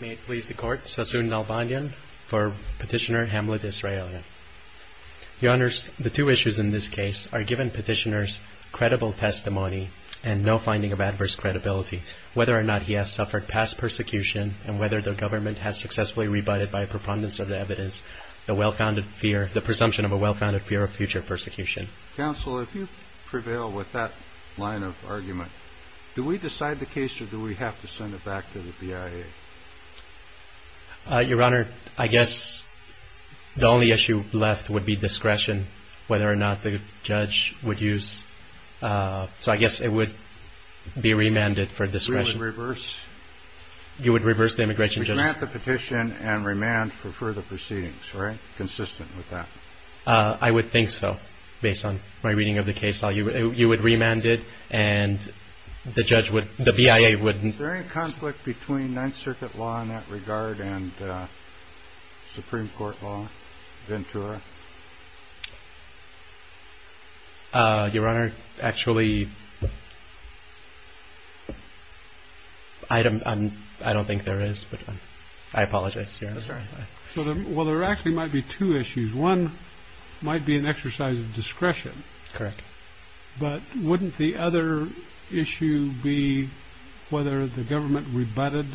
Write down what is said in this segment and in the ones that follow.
May it please the Court, Sassoon Nalbanyan for Petitioner Hamlet Israyelyan. Your Honors, the two issues in this case are given Petitioner's credible testimony and no finding of adverse credibility, whether or not he has suffered past persecution and whether the government has successfully rebutted by preponderance of the evidence the presumption of a well-founded fear of future persecution. Counsel, if you prevail with that line of argument, do we decide the case or do we have to send it back to the BIA? Your Honor, I guess the only issue left would be discretion, whether or not the judge would use, so I guess it would be remanded for discretion. You would reverse? You would reverse the immigration judgment. You would remand the petition and remand for further proceedings, right, consistent with that? I would think so, based on my reading of the case. You would remand it and the BIA would... Is there any conflict between Ninth Circuit law in that regard and Supreme Court law, Ventura? Your Honor, actually, I don't think there is, but I apologize. Well, there actually might be two issues. One might be an exercise of discretion, but wouldn't the other issue be whether the government rebutted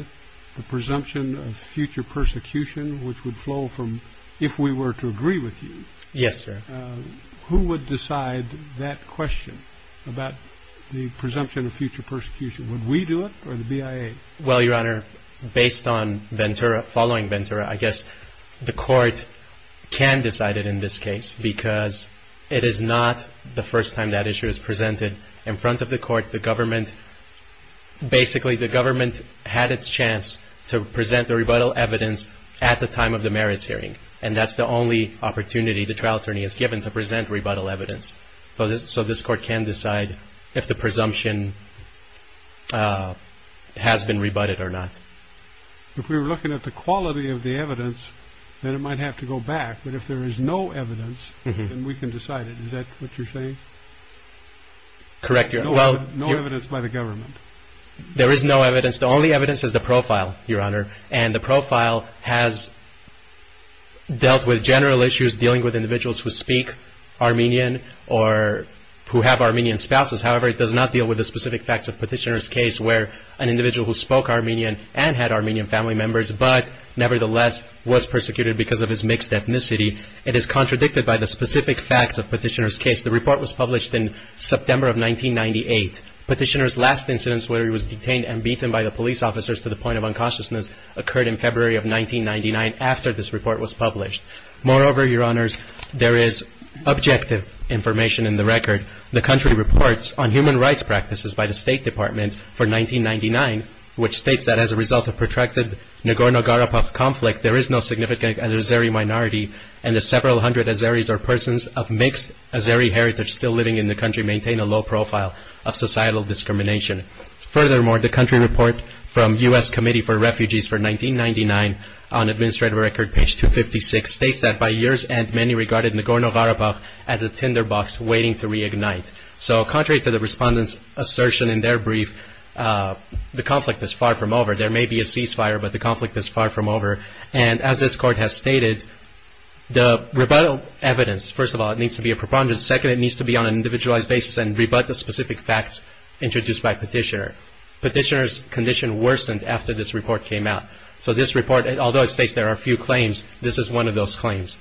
the presumption of future persecution, which would flow from if we were to agree with you? Yes, sir. Who would decide that question about the presumption of future persecution? Would we do it or the BIA? Well, Your Honor, based on Ventura, following Ventura, I guess the court can decide it in this case because it is not the first time that issue is presented. In front of the court, the government, basically the government had its chance to present the rebuttal evidence at the time of the merits hearing, and that's the only opportunity the trial attorney is given to present rebuttal evidence. So this court can decide if the presumption has been rebutted or not. If we were looking at the quality of the evidence, then it might have to go back, but if there is no evidence, then we can decide it. Is that what you're saying? Correct Your Honor. No evidence by the government? There is no evidence. The only evidence is the profile, Your Honor, and the profile has dealt with general issues dealing with individuals who speak Armenian or who have Armenian spouses. However, it does not deal with the specific facts of Petitioner's case where an individual who spoke Armenian and had Armenian family members, but nevertheless was persecuted because of his mixed ethnicity. It is contradicted by the specific facts of Petitioner's case. The report was published in September of 1998. Petitioner's last incidents where he was detained and beaten by the police officers to the point of unconsciousness occurred in February of 1999 after this report was published. Moreover, Your Honors, there is objective information in the record. The country reports on human rights practices by the State Department for 1999, which states that as a result of protracted Nagorno-Karabakh conflict, there is no significant Azeri minority and the several hundred Azeris or persons of mixed Azeri heritage still living in the country maintain a low profile of societal discrimination. Furthermore, the country report from U.S. Committee for Refugees for 1999 on Administrative Record, page 256, states that by year's end, many regarded Nagorno-Karabakh as a tinderbox waiting to reignite. So contrary to the respondent's assertion in their brief, the conflict is far from over. There may be a ceasefire, but the conflict is far from over. And as this Court has stated, the rebuttal evidence, first of all, it needs to be a preponderance. Second, it needs to be on an individualized basis and rebut the specific facts introduced by Petitioner. Petitioner's condition worsened after this report came out. So this report, although it states there are a few claims, this is one of those claims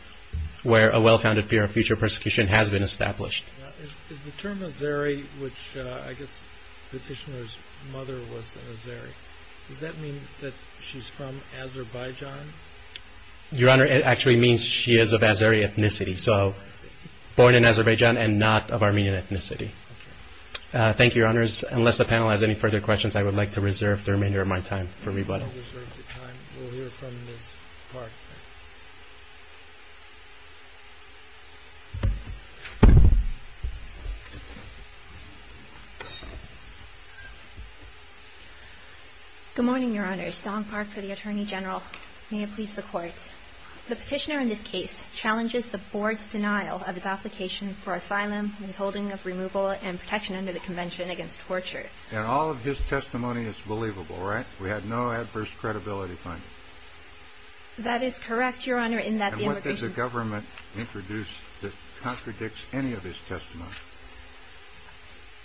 where a well-founded fear of future persecution has been established. Is the term Azeri, which I guess Petitioner's mother was an Azeri, does that mean that she's from Azerbaijan? Your Honor, it actually means she is of Azeri ethnicity, so born in Azerbaijan and not of Armenian ethnicity. Okay. Thank you, Your Honors. Unless the panel has any further questions, I would like to reserve the remainder of my time for rebuttal. We'll hear from Ms. Park. Good morning, Your Honors. Song Park for the Attorney General. May it please the Court. The Petitioner in this case challenges the Board's denial of his application for asylum, withholding of removal, and protection under the Convention against torture. And all of his testimony is believable, right? We had no adverse credibility findings. That is correct, Your Honor, in that the immigration... And what did the government introduce that contradicts any of his testimony?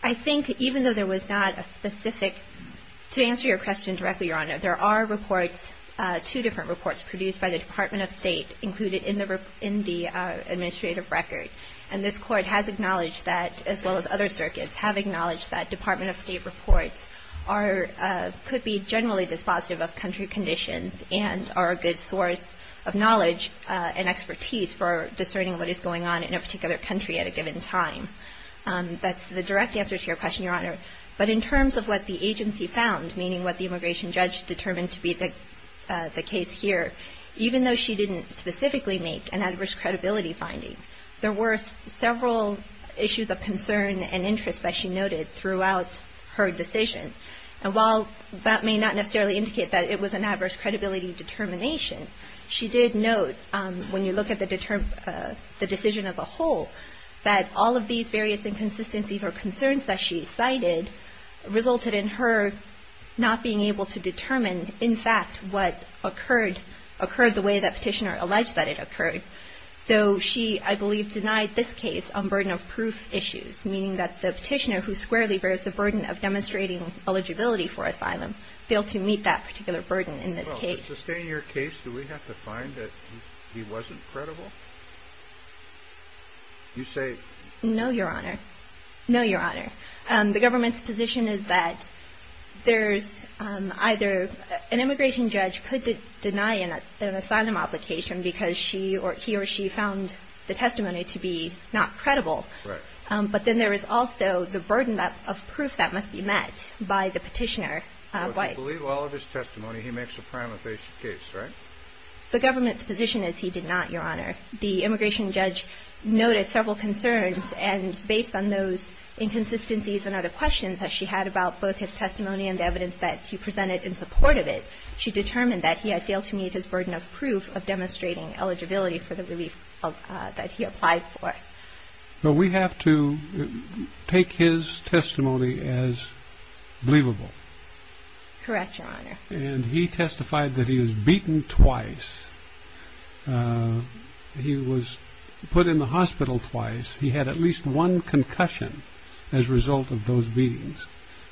I think even though there was not a specific... To answer your question directly, Your Honor, there are reports, two different reports, produced by the Department of State included in the administrative record. And this Court has acknowledged that, as well as other circuits, have acknowledged that he generally is positive of country conditions and are a good source of knowledge and expertise for discerning what is going on in a particular country at a given time. That's the direct answer to your question, Your Honor. But in terms of what the agency found, meaning what the immigration judge determined to be the case here, even though she didn't specifically make an adverse credibility finding, there were several issues of concern and interest that she noted throughout her decision. And while that may not necessarily indicate that it was an adverse credibility determination, she did note, when you look at the decision as a whole, that all of these various inconsistencies or concerns that she cited resulted in her not being able to determine, in fact, what occurred the way that Petitioner alleged that it occurred. So she, I believe, denied this case on burden of proof issues, meaning that the Petitioner, who squarely bears the burden of demonstrating eligibility for asylum, failed to meet that particular burden in this case. Well, to sustain your case, do we have to find that he wasn't credible? You say? No, Your Honor. No, Your Honor. The government's position is that there's either an immigration judge could deny an asylum application because she or he or she found the testimony to be not credible. Right. But then there is also the burden of proof that must be met by the Petitioner. Why? Well, if you believe all of his testimony, he makes a prima facie case, right? The government's position is he did not, Your Honor. The immigration judge noted several concerns, and based on those inconsistencies and other questions that she had about both his testimony and the evidence that he presented in support of it, she determined that he had failed to meet his burden of proof of demonstrating eligibility for the relief that he applied for. So we have to take his testimony as believable. Correct, Your Honor. And he testified that he was beaten twice. He was put in the hospital twice. He had at least one concussion as a result of those beatings.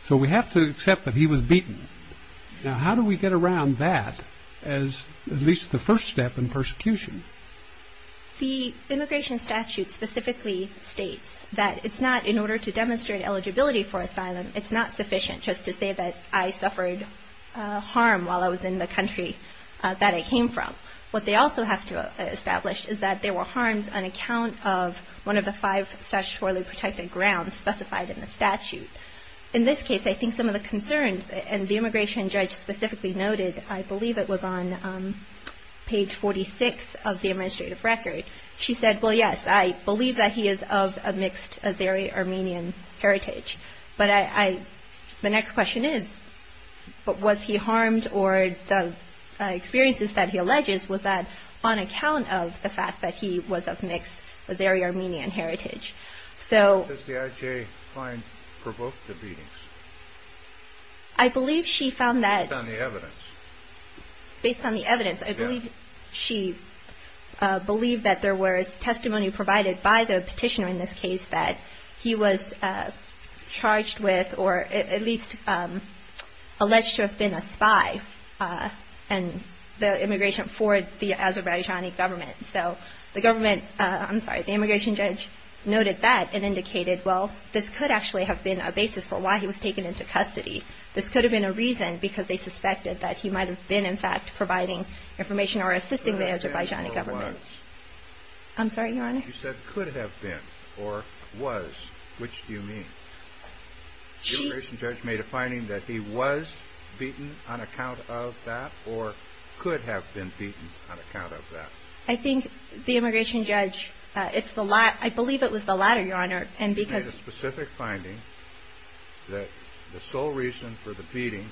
So we have to accept that he was beaten. Now, how do we get around that as at least the first step in persecution? The immigration statute specifically states that it's not, in order to demonstrate eligibility for asylum, it's not sufficient just to say that I suffered harm while I was in the country that I came from. What they also have to establish is that there were harms on account of one of the five statutorily protected grounds specified in the statute. In this case, I think some of the concerns, and the immigration judge specifically noted, I believe it was on page 46 of the administrative record, she said, well, yes, I believe that he is of a mixed Azeri-Armenian heritage. But the next question is, was he harmed or the experiences that he alleges was that on account of the fact that he was of mixed Azeri-Armenian heritage? Does the IJ find provoked the beatings? I believe she found that. Based on the evidence, I believe she believed that there was testimony provided by the petitioner in this case that he was charged with or at least alleged to have been a spy in the immigration for the Azerbaijani government. So the government, I'm sorry, the immigration judge noted that and indicated, well, this could actually have been a basis for why he was taken into custody. This could have been a reason because they suspected that he might have been, in fact, providing information or assisting the Azerbaijani government. I'm sorry, Your Honor? You said could have been or was. Which do you mean? The immigration judge made a finding that he was beaten on account of that or could have been beaten on account of that. I think the immigration judge, it's the latter. I believe it was the latter, Your Honor. He made a specific finding that the sole reason for the beating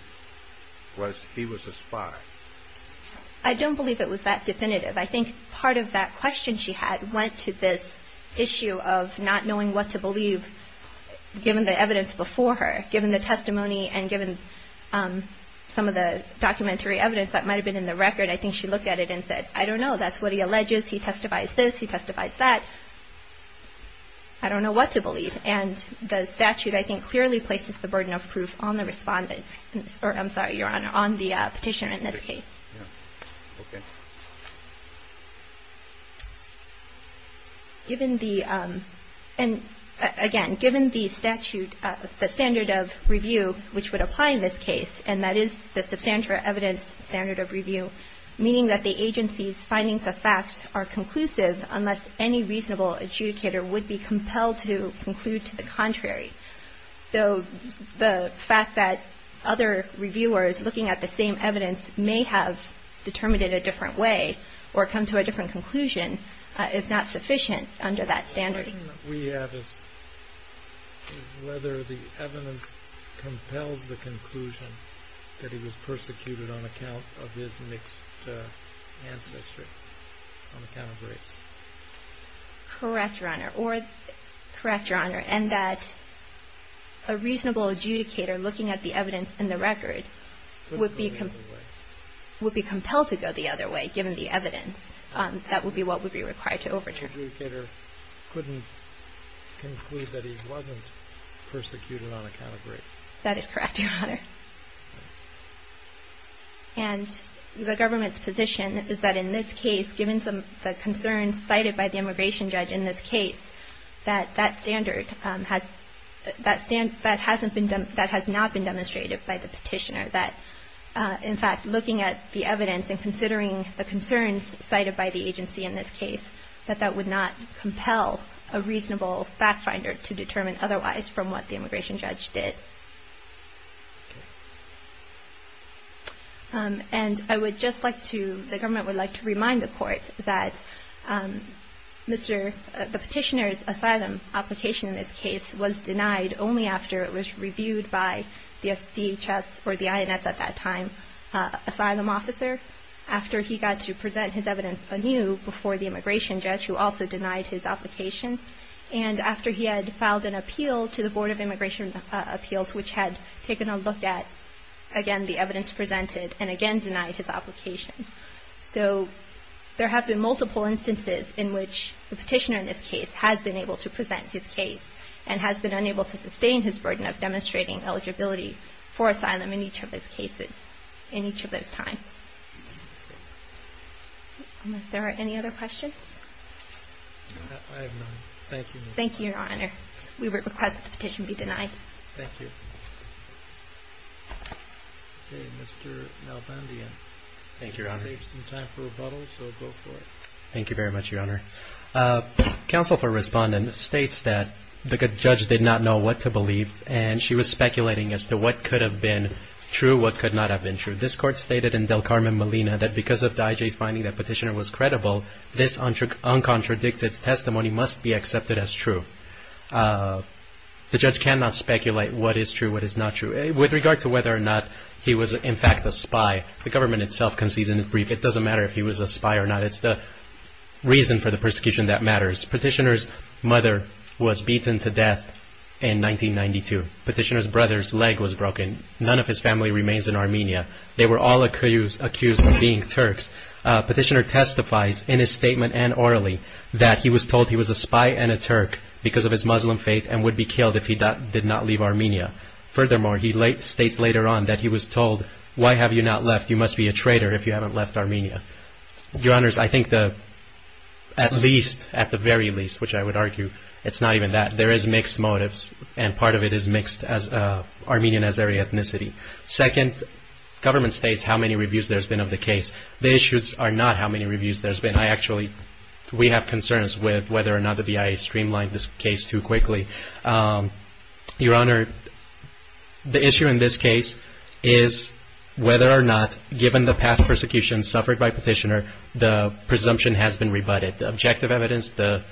was he was a spy. I don't believe it was that definitive. I think part of that question she had went to this issue of not knowing what to believe, given the evidence before her, given the testimony and given some of the documentary evidence that might have been in the record. I think she looked at it and said, I don't know. That's what he alleges. He testifies this. He testifies that. I don't know what to believe. And the statute, I think, clearly places the burden of proof on the respondent or, I'm sorry, Your Honor, on the petitioner in this case. Okay. Given the, again, given the statute, the standard of review which would apply in this case, and that is the substantial evidence standard of review, meaning that the agency's facts are conclusive unless any reasonable adjudicator would be compelled to conclude to the contrary. So the fact that other reviewers looking at the same evidence may have determined it a different way or come to a different conclusion is not sufficient under that standard. The question that we have is whether the evidence compels the conclusion that he was persecuted on account of his mixed ancestry. On account of race. Correct, Your Honor. Correct, Your Honor. And that a reasonable adjudicator looking at the evidence in the record would be compelled to go the other way, given the evidence. That would be what would be required to overturn. The adjudicator couldn't conclude that he wasn't persecuted on account of race. That is correct, Your Honor. And the government's position is that in this case, given the concerns cited by the immigration judge in this case, that that standard has, that hasn't been, that has not been demonstrated by the petitioner. That, in fact, looking at the evidence and considering the concerns cited by the agency in this case, that that would not compel a reasonable fact finder to determine otherwise from what the immigration judge did. Okay. And I would just like to, the government would like to remind the court that Mr., the petitioner's asylum application in this case was denied only after it was reviewed by the SDHS or the INS at that time, asylum officer. After he got to present his evidence anew before the immigration judge, who also denied his application. And after he had filed an appeal to the Board of Immigration Appeals, which had taken a look at, again, the evidence presented, and again denied his application. So there have been multiple instances in which the petitioner in this case has been able to present his case and has been unable to sustain his burden of demonstrating eligibility for asylum in each of those cases, in each of those times. Unless there are any other questions? I have none. Thank you. Thank you, Your Honor. We request that the petition be denied. Thank you. Mr. Malbandia. Thank you, Your Honor. You saved some time for rebuttal, so go for it. Thank you very much, Your Honor. Counsel for Respondent states that the judge did not know what to believe, and she was speculating as to what could have been true, what could not have been true. This court stated in Del Carmen Molina that because of the IJ's finding that petitioner was credible, this uncontradicted testimony must be accepted as true. The judge cannot speculate what is true, what is not true. With regard to whether or not he was, in fact, a spy, the government itself concedes in its brief, it doesn't matter if he was a spy or not. It's the reason for the persecution that matters. Petitioner's mother was beaten to death in 1992. Petitioner's brother's leg was broken. None of his family remains in Armenia. They were all accused of being Turks. Petitioner testifies in his statement and orally that he was told he was a spy and a Turk because of his Muslim faith and would be killed if he did not leave Armenia. Furthermore, he states later on that he was told, why have you not left, you must be a traitor if you haven't left Armenia. Your Honors, I think the, at least, at the very least, which I would argue, it's not even that. There is mixed motives, and part of it is mixed as Armenian-Azeri ethnicity. Second, government states how many reviews there's been of the case. The issues are not how many reviews there's been. I actually, we have concerns with whether or not the BIA streamlined this case too quickly. Your Honor, the issue in this case is whether or not, given the past persecution suffered by Petitioner, the presumption has been rebutted. The objective evidence, the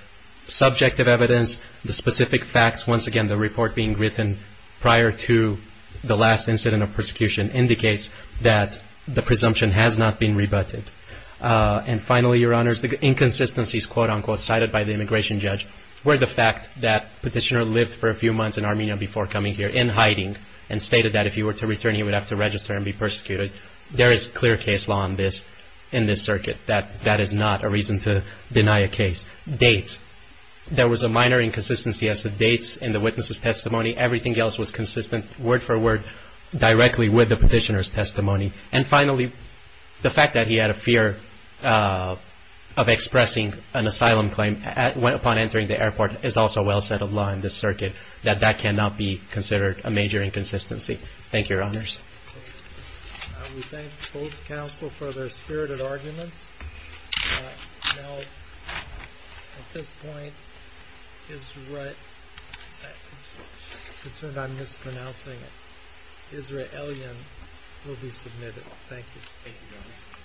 subjective evidence, the specific facts, once again, the report being written prior to the last incident of persecution indicates that the presumption has not been rebutted. And finally, Your Honors, the inconsistencies, quote-unquote, cited by the immigration judge were the fact that Petitioner lived for a few months in Armenia before coming here in hiding and stated that if he were to return, he would have to register and be persecuted. There is clear case law on this in this circuit. That is not a reason to deny a case. There was a minor inconsistency as to dates in the witness' testimony. Everything else was consistent, word for word, directly with the Petitioner's testimony. And finally, the fact that he had a fear of expressing an asylum claim upon entering the airport is also well set of law in this circuit, that that cannot be considered a major inconsistency. Thank you, Your Honors. We thank both counsel for their spirited arguments. Now, at this point, Israel—I'm concerned I'm mispronouncing it— Israelian will be submitted. Thank you. Thank you, Your Honor.